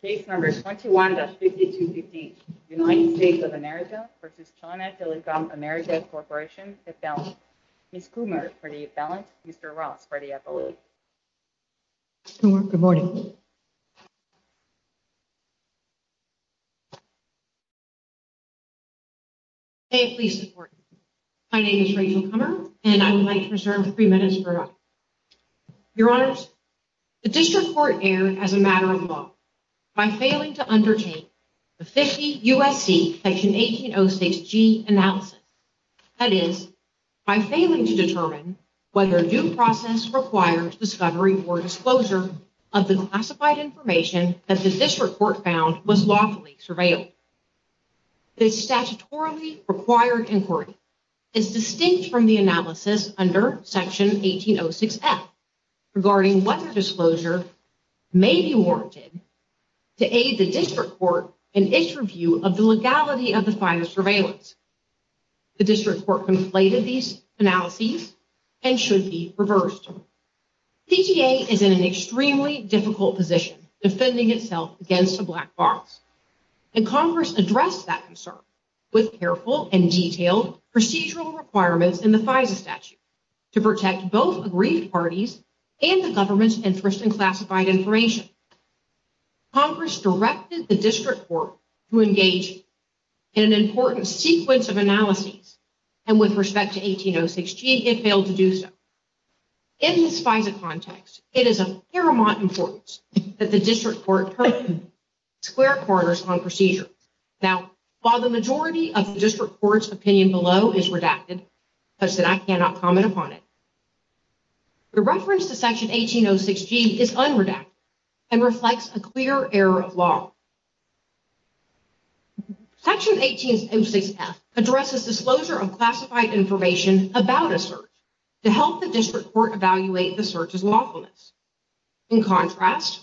Case Number 21-5215 United States of America v. China Telecom Americas Corporation, Ithalland Ms. Kummer for the Ithalland, Mr. Ross for the Ithalland Good morning May it please the court, my name is Rachel Kummer and I would like to reserve three minutes for by failing to undertake the 50 U.S.C. Section 1806G analysis, that is, by failing to determine whether due process requires discovery or disclosure of the classified information that the district court found was lawfully surveilled. This statutorily required inquiry is distinct from the analysis under Section 1806F regarding whether disclosure may be warranted to aid the district court in its review of the legality of the FISA surveillance. The district court conflated these analyses and should be reversed. CTA is in an extremely difficult position defending itself against a black box and Congress addressed that concern with careful and detailed procedural requirements in the FISA statute to protect both agreed parties and the government's interest in classified information. Congress directed the district court to engage in an important sequence of analyses and with respect to 1806G, it failed to do so. In this FISA context, it is of paramount importance that the district court turn square quarters on procedure. Now, while the majority of the district court's opinion below is redacted, such that I cannot comment upon it, the reference to error of law. Section 1806F addresses disclosure of classified information about a search to help the district court evaluate the search's lawfulness. In contrast,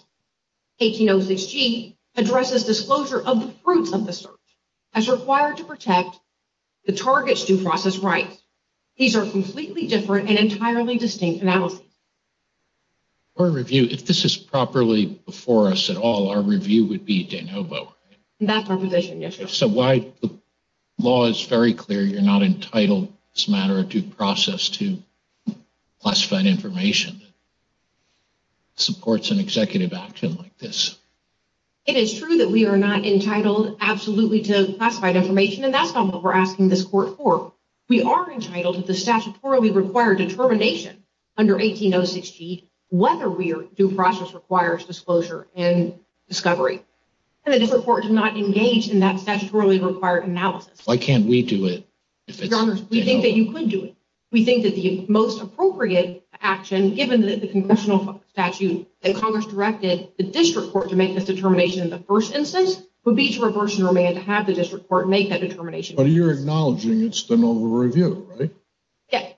1806G addresses disclosure of the fruits of the search as required to protect the target's due process rights. These are completely different and entirely distinct analyses. For review, if this is properly before us at all, our review would be de novo. That's our position, yes. So why the law is very clear you're not entitled as a matter of due process to classified information that supports an executive action like this. It is true that we are not entitled absolutely to classified information and that's not what we're asking this court for. We are entitled to the statutory required determination under 1806G, whether we are due process requires disclosure and discovery. And it is important to not engage in that statutorily required analysis. Why can't we do it? Your Honor, we think that you could do it. We think that the most appropriate action, given that the congressional statute that Congress directed the district court to make this determination in the first instance would be to reverse and remain to have the district court make that determination. But you're acknowledging it's the normal review, right?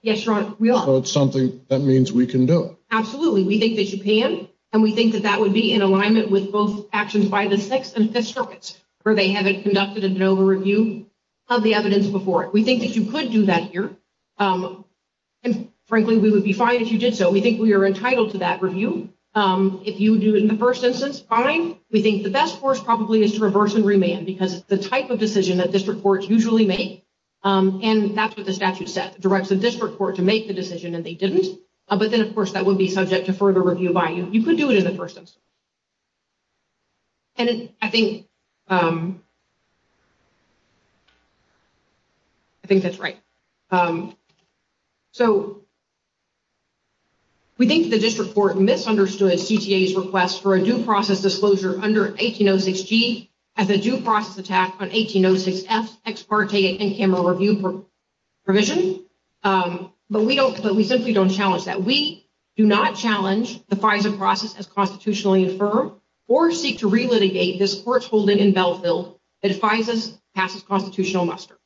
Yes, Your Honor, we are. It's something that means we can do it. Absolutely. We think that you can. And we think that that would be in alignment with both actions by the Sixth and Fifth Circuits, where they haven't conducted a de novo review of the evidence before it. We think that you could do that here. And frankly, we would be fine if you did so. We think we are entitled to that review. If you do it in the first instance, fine. We think the best course probably is to reverse and remain because it's the type of decision that district courts usually make. And that's what the statute said, directs the district court to make the decision, and they didn't. But then, of course, that would be subject to further review by you. You could do it in the first instance. And I think that's right. So we think the district court misunderstood CTA's request for a due process disclosure under 1806G as a due process attack on 1806F's ex parte in-camera review provision. But we simply don't challenge that. We do not challenge the FISA process as constitutionally infirm or seek to relitigate this court's holding in Belleville that FISA passes constitutional muster.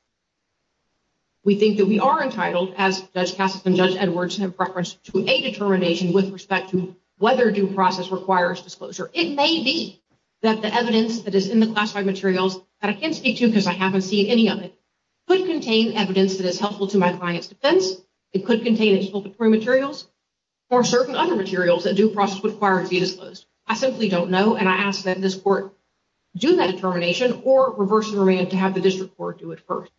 We think that we are entitled, as Judge Cassis and Judge Edwards have referenced, to a determination with respect to whether due process requires disclosure. It may be that the evidence that is in the classified materials, that I can't speak to because I haven't seen any of it, could contain evidence that is helpful to my client's defense. It could contain expulsory materials or certain other materials that due process requires to be disclosed. I simply don't know. And I ask that this court do that determination or reverse and remain to have the district court do it first.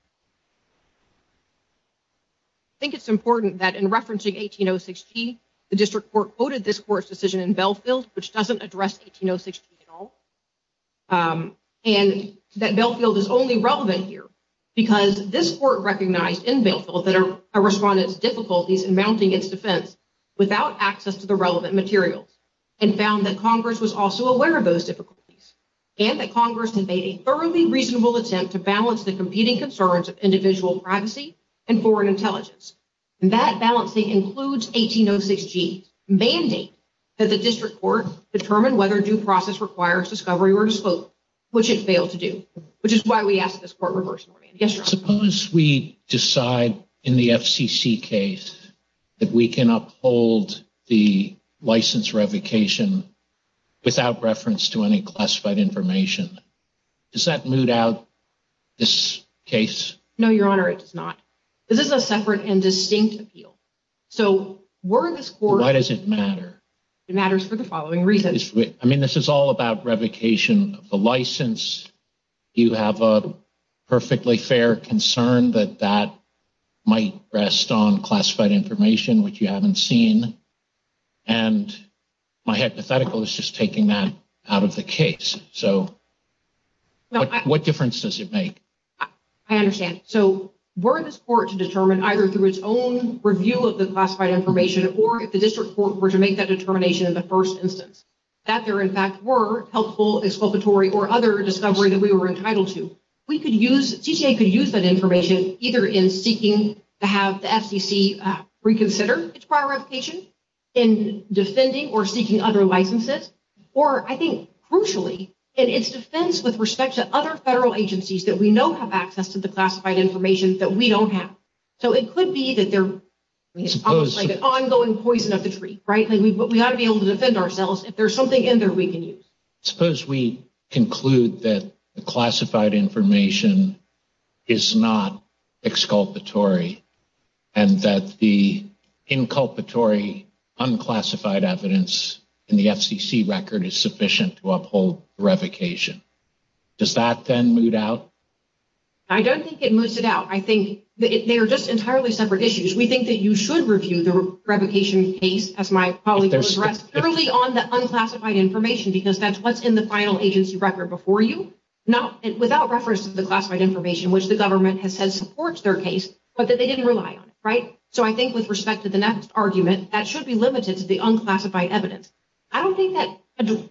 I think it's important that in referencing 1806G, the district court quoted this court's decision in Belleville, which doesn't address 1806G at all, and that Belleville is only relevant here because this court recognized in Belleville that a respondent's difficulties in mounting its defense without access to the relevant materials, and found that Congress was also aware of those difficulties, and that Congress made a thoroughly reasonable attempt to balance the competing concerns of individual privacy and foreign intelligence. That balancing includes 1806G's mandate that the district court determine whether due process requires discovery or disclose, which it failed to do, which is why we ask this court reverse. Suppose we decide in the FCC case that we can uphold the license revocation without reference to any classified information. Does that moot out this case? No, Your Honor, it does not. This is a separate and distinct appeal. Why does it matter? It matters for the following reasons. I mean, this is all about revocation of the license. You have a perfectly fair concern that that might rest on classified information, which you haven't seen. And my hypothetical is just taking that out of the case. So what difference does it make? I understand. So were this court to determine either through its own review of the classified information, or if the district court were to make that determination in the first instance, that there, in fact, were helpful, exculpatory, or other discovery that we were entitled to. We could use, CTA could use that information either in seeking to have the FCC reconsider its prior revocation, in defending or seeking other licenses, or I think, crucially, in its defense with respect to other federal agencies that we know have access to the classified information that we don't have. So it could be that they're almost like an ongoing poison of the tree, right? We ought to be able to defend ourselves. If there's something in there we can use. Suppose we conclude that the classified information is not exculpatory, and that the inculpatory, unclassified evidence in the FCC record is sufficient to uphold revocation. Does that then moot out? I don't think it moots it out. I think they are just entirely separate issues. We think that you should review the revocation case, as my colleague will address, purely on the unclassified information, because that's what's in the final agency record before you, without reference to the classified information, which the government has said supports their case, but that they didn't rely on it, right? So I think with respect to the next argument, that should be limited to the unclassified evidence. I don't think that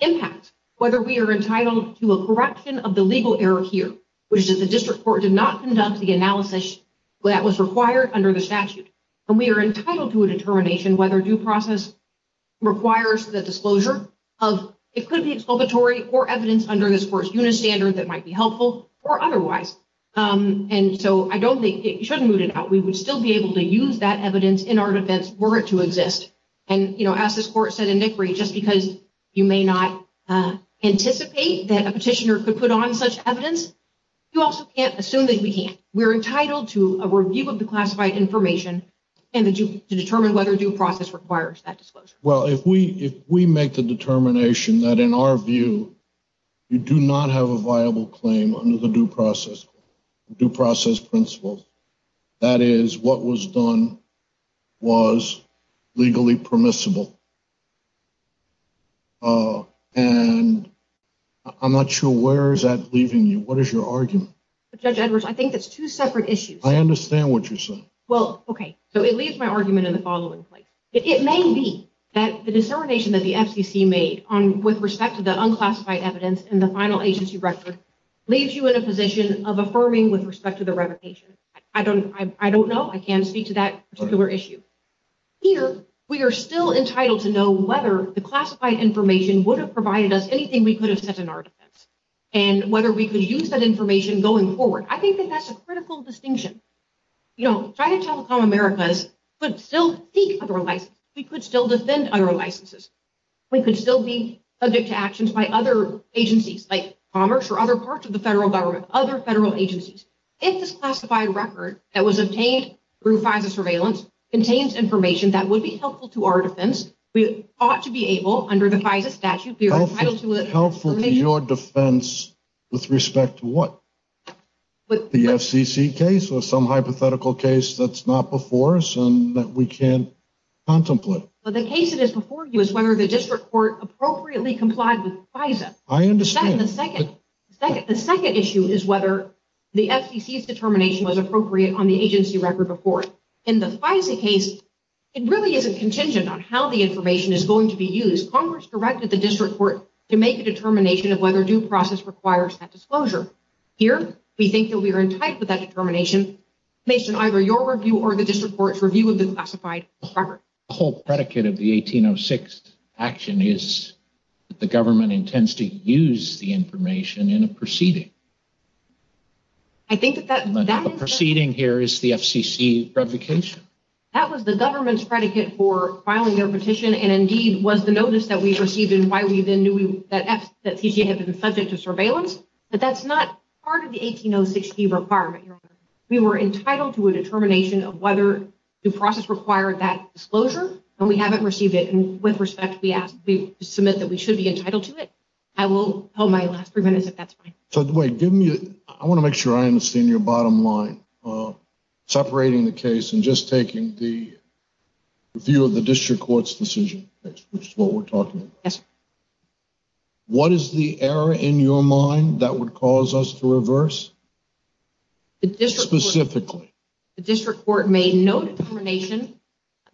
impacts whether we are entitled to a corruption of the legal error here, which is the district court did not conduct the analysis that was required under the statute, and we are entitled to a determination whether due process requires the disclosure of, it could be exculpatory or evidence under this first unit standard that might be helpful or otherwise. And so I don't think it should moot it out. We would still be able to use that evidence in our defense were it to exist, and as this court said in Nickery, just because you may not anticipate that a petitioner could put on such evidence, you also can't assume that we can't. We're entitled to a review of the classified information and to determine whether due process requires that disclosure. Well, if we make the determination that in our view, you do not have a viable claim under the due process principles, that is what was done was legally permissible. And I'm not sure where is that leaving you? What is your argument? Judge Edwards, I think that's two separate issues. I understand what you're saying. Well, okay. So it leaves my argument in the following place. It may be that the discernation that the FCC made with respect to the unclassified evidence in the final agency record leaves you in a position of affirming with respect to the revocation. I don't know. I can't speak to that particular issue. Here, we are still entitled to know whether the classified information would have provided us anything we could have set in our defense and whether we could use that information going forward. I think that that's a critical distinction. You know, China Telecom Americas could still seek other licenses. We could still defend other licenses. We could still be subject to actions by other agencies like commerce or other parts of the federal government, other federal agencies. If this classified record that was obtained through FISA surveillance contains information that would be helpful to our defense, we ought to be able, under the FISA statute... Helpful to your defense with respect to what? The FCC case or some hypothetical case that's not before us and that we can't contemplate? Well, the case that is before you is whether the district court appropriately complied with FISA. I understand. The second issue is whether the FCC's determination was appropriate on the agency record before. In the FISA case, it really isn't contingent on how the information is going to be used. Congress directed the district court to make a determination of whether due process requires that disclosure. Here, we think that we are entitled to that determination based on either your review or the district court's review of the classified record. The whole predicate of the 1806 action is that the government intends to use the information in a proceeding. I think that that... A proceeding here is the FCC's revocation. That was the government's predicate for filing their petition and indeed was the notice that we received and why we then knew that CCA had been subject to surveillance. But that's not part of the 1806 requirement. We were entitled to a determination of whether due process required that disclosure and we haven't received it. With respect, we submit that we should be entitled to it. I will hold my last three minutes if that's fine. So, Dwayne, give me... I want to make sure I understand your bottom line. Separating the case and just taking the view of the district court's decision, which is what we're talking about. Yes, sir. What is the error in your mind that would cause us to reverse? The district court... Specifically. The district court made no determination.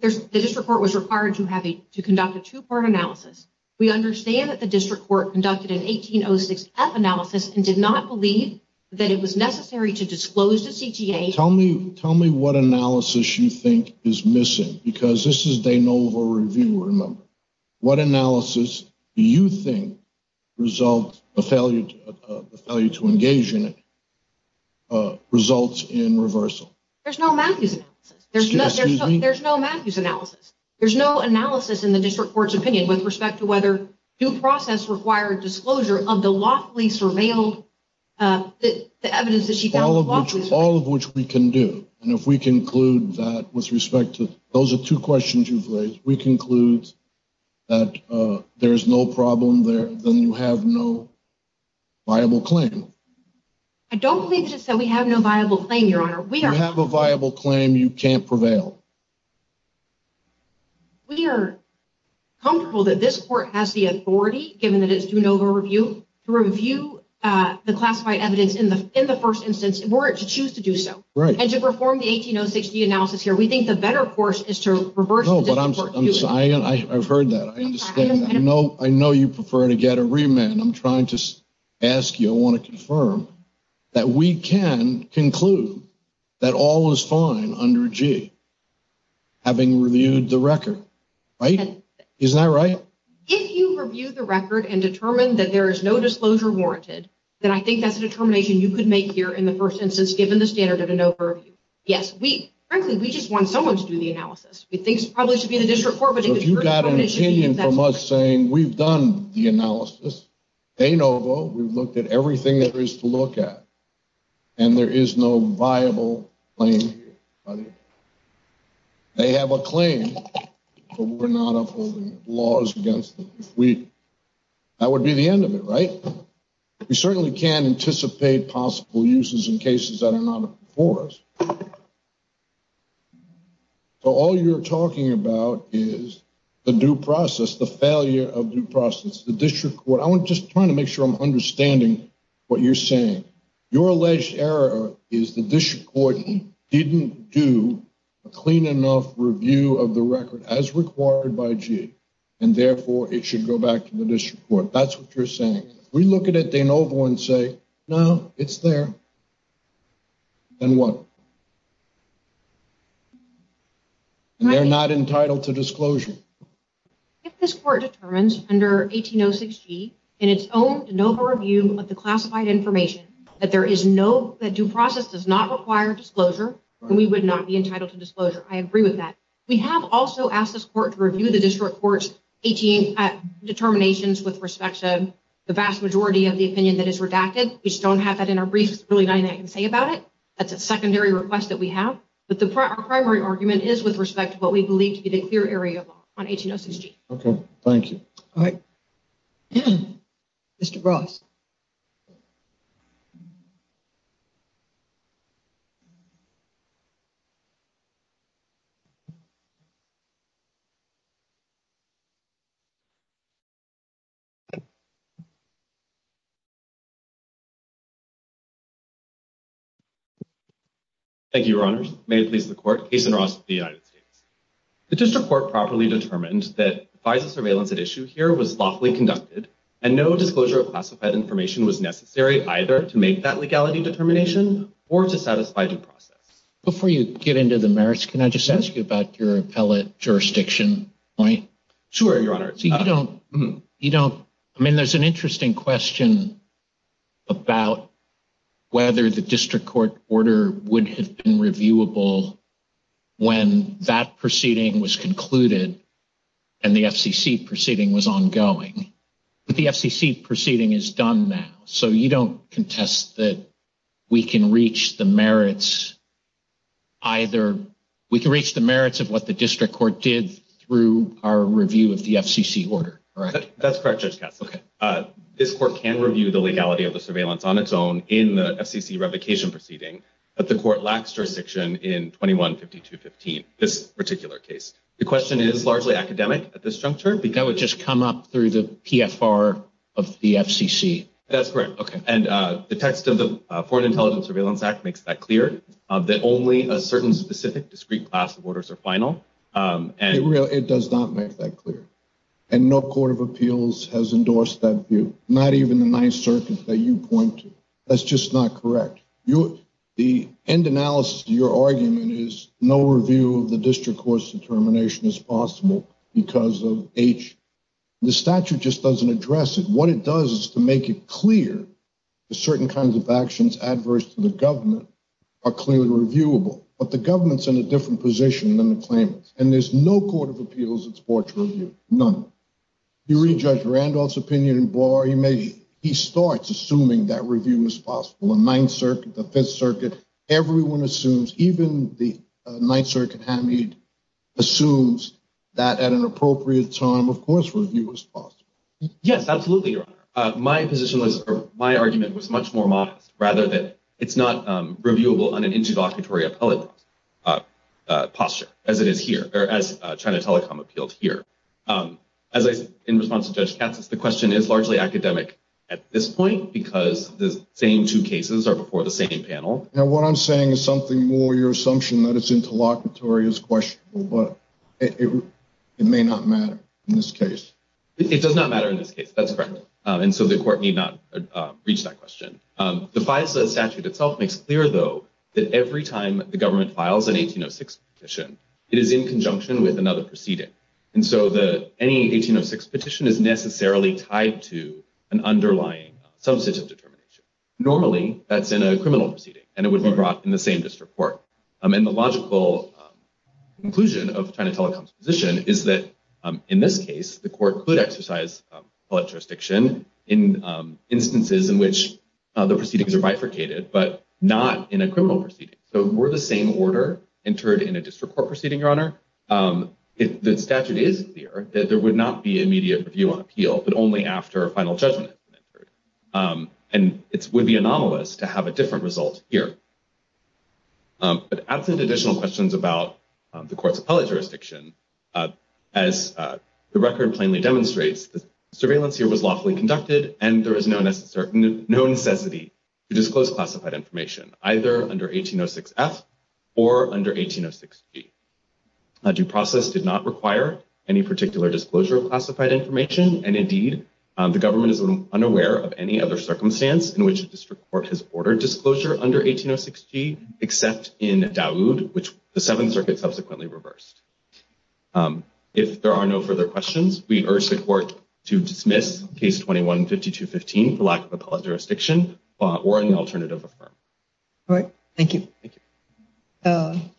The district court was required to conduct a two-part analysis. We understand that the district court conducted an 1806F analysis and did not believe that it was necessary to disclose to CTA. Tell me what analysis you think is missing because this is de novo review, remember. What analysis do you think results, the failure to engage in it, results in reversal? There's no Matthews analysis. Excuse me? There's no Matthews analysis. There's no analysis in the district court's opinion with respect to whether due process required disclosure of the lawfully surveilled, the evidence that she found... All of which we can do. And if we conclude that with respect to... Those are two questions you've raised. We conclude that there is no problem there, then you have no viable claim. I don't believe that we have no viable claim, Your Honor. We are... You have a viable claim, you can't prevail. We are comfortable that this court has the authority, given that it's de novo review, to review the classified evidence in the first instance if we were to choose to do so. Right. And to perform the 1806D analysis here, we think the better course is to reverse the district court's view. I've heard that. I know you prefer to get a remand. I'm trying to ask you, I want to confirm that we can conclude that all was fine under G, having reviewed the record, right? Isn't that right? If you review the record and determine that there is no disclosure warranted, then I think that's a determination you could make here in the first instance, given the standard of de novo review. Yes, we... Frankly, we just want someone to do the analysis. We think it probably should be the district court, but if the district court... If you got an opinion from us saying, we've done the analysis, de novo, we've looked at everything there is to look at, and there is no viable claim here, I think they have a claim, but we're not upholding laws against them. If we... That would be the end of it, right? We certainly can't anticipate possible uses in cases that are not before us. So all you're talking about is the due process, the failure of due process. The district court... I'm just trying to make sure I'm understanding what you're saying. Your alleged error is the district court didn't do a clean enough review of the record as required by G, and therefore it should go back to the district court. That's what you're saying. We look at it de novo and say, no, it's there. Then what? They're not entitled to disclosure. If this court determines under 1806 G in its own de novo review of the classified information that there is no... We would not be entitled to disclosure. I agree with that. We have also asked this court to review the district court's 18 determinations with respect to the vast majority of the opinion that is redacted. We just don't have that in our briefs. There's really nothing I can say about it. That's a secondary request that we have, but our primary argument is with respect to what we believe to be the clear area law on 1806 G. Okay, thank you. All right, Mr. Ross. Thank you, Your Honors. May it please the court. Cason Ross of the United States. The district court properly determined that FISA surveillance at issue here was lawfully conducted and no disclosure of classified information was necessary either to make that legality determination or to satisfy due process. Before you get into the merits, can I just ask you about your appellate jurisdiction point? Sure, Your Honor. So you don't... I mean, there's an interesting question about whether the district court order would have been reviewable when that proceeding was concluded and the FCC proceeding was ongoing. But the FCC proceeding is done now. So you don't contest that we can reach the merits either... We can reach the merits of what the district court did through our review of the FCC order, correct? That's correct, Judge Cass. This court can review the legality of the surveillance on its own in the FCC revocation proceeding that the court lacks jurisdiction in 21-52-15, this particular case. The question is largely academic at this juncture. That would just come up through the PFR of the FCC. That's correct, okay. And the text of the Foreign Intelligence Surveillance Act makes that clear that only a certain specific discrete class of orders are final and... It does not make that clear. And no court of appeals has endorsed that view, not even the Ninth Circuit that you point to. That's just not correct. The end analysis of your argument is no review of the district court's determination is possible because of H. The statute just doesn't address it. What it does is to make it clear that certain kinds of actions adverse to the government are clearly reviewable, but the government's in a different position than the claimants. And there's no court of appeals that's brought to review, none. You read Judge Randolph's opinion in bar, he may... He starts assuming that review is possible in Ninth Circuit, the Fifth Circuit. Everyone assumes, even the Ninth Circuit Hamid assumes that at an appropriate time, of course, review is possible. Yes, absolutely, Your Honor. My position was... My argument was much more modest, rather that it's not reviewable on an interlocutory appellate posture as it is here, or as China Telecom appealed here. As I said in response to Judge Katz, the question is largely academic at this point because the same two cases are before the same panel. Now, what I'm saying is something more, your assumption that it's interlocutory is questionable, but it may not matter in this case. It does not matter in this case. That's correct. And so the court need not reach that question. The FISA statute itself makes clear though, that every time the government files an 1806 petition, it is in conjunction with another proceeding. And so any 1806 petition is necessarily tied to an underlying substantive determination. Normally that's in a criminal proceeding and it would be brought in the same district court. And the logical conclusion of China Telecom's position is that in this case, the court could exercise appellate jurisdiction in instances in which the proceedings are bifurcated, but not in a criminal proceeding. So were the same order entered in a district court proceeding, Your Honor? The statute is clear that there would not be immediate review on appeal, but only after a final judgment has been entered. And it would be anomalous to have a different result here. But absent additional questions about the court's appellate jurisdiction, as the record plainly demonstrates, the surveillance here was lawfully conducted and there is no necessity to disclose classified information, either under 1806 F or under 1806 G. A due process did not require any particular disclosure of classified information. And indeed, the government is unaware of any other circumstance in which a district court has ordered disclosure under 1806 G except in Dawood, which the Seventh Circuit subsequently reversed. If there are no further questions, we urge the court to dismiss case 21-5215 for lack of appellate jurisdiction or an alternative affirm. All right, thank you. Thank you.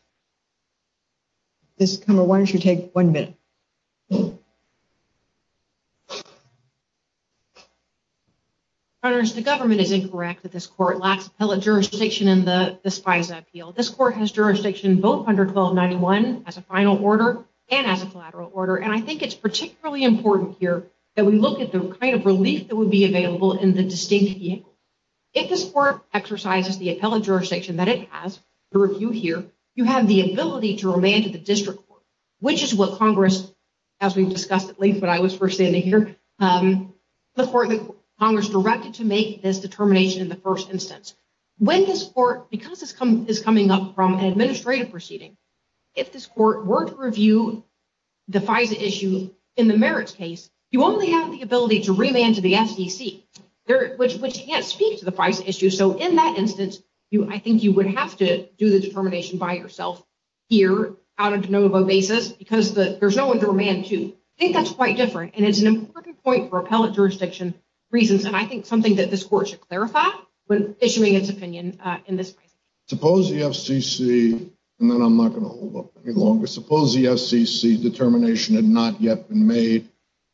Ms. Kummer, why don't you take one minute? Honors, the government is incorrect that this court lacks appellate jurisdiction in the SPISA appeal. This court has jurisdiction both under 1291 as a final order and as a collateral order. And I think it's particularly important here that we look at the kind of relief that would be available in the distinct vehicle. If this court exercises the appellate jurisdiction that it has to review here, you have the ability to remand to the district court, which is what Congress, as we've discussed at length when I was first standing here, the court that Congress directed to make this determination in the first instance. When this court, because this is coming up from an administrative proceeding, if this court were to review the FISA issue in the merits case, you only have the ability to remand to the FCC, which can't speak to the FISA issue. So in that instance, I think you would have to do the determination by yourself here out of de novo basis because there's no one to remand to. I think that's quite different. And it's an important point for appellate jurisdiction reasons. And I think something that this court should clarify when issuing its opinion in this case. Suppose the FCC, and then I'm not going to hold up any longer. Suppose the FCC determination had not yet been made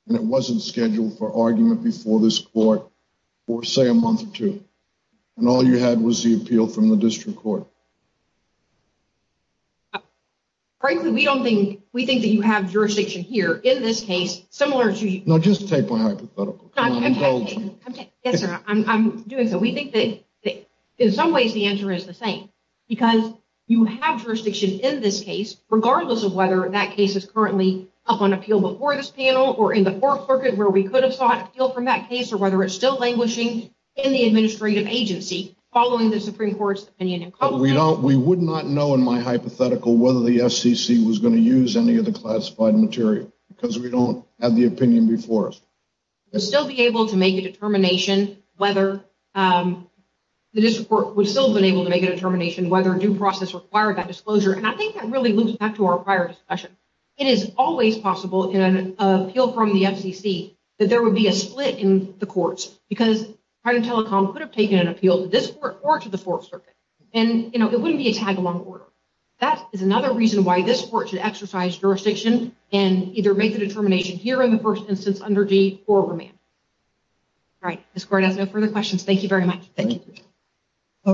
and it wasn't scheduled for argument before this court for say a month or two. And all you had was the appeal from the district court. Frankly, we don't think, we think that you have jurisdiction here in this case, similar to- No, just take my hypothetical. Yes, sir. I'm doing so. We think that in some ways, the answer is the same because you have jurisdiction in this case, regardless of whether that case is currently up on appeal before this panel or in the fourth circuit where we could have sought appeal from that case or whether it's still languishing in the administrative agency following the Supreme Court's opinion. We would not know in my hypothetical whether the FCC was going to use any of the classified material because we don't have the opinion before us. Still be able to make a determination whether the district court would still have been able to make a determination whether due process required that disclosure. And I think that really loops back to our prior discussion. It is always possible in an appeal from the FCC that there would be a split in the courts because Trident Telecom could have taken an appeal to this court or to the fourth circuit. And it wouldn't be a tag along order. That is another reason why this court should exercise jurisdiction and either make the determination here in the first instance under deed or remand. All right. This court has no further questions. Thank you very much. Thank you. All right.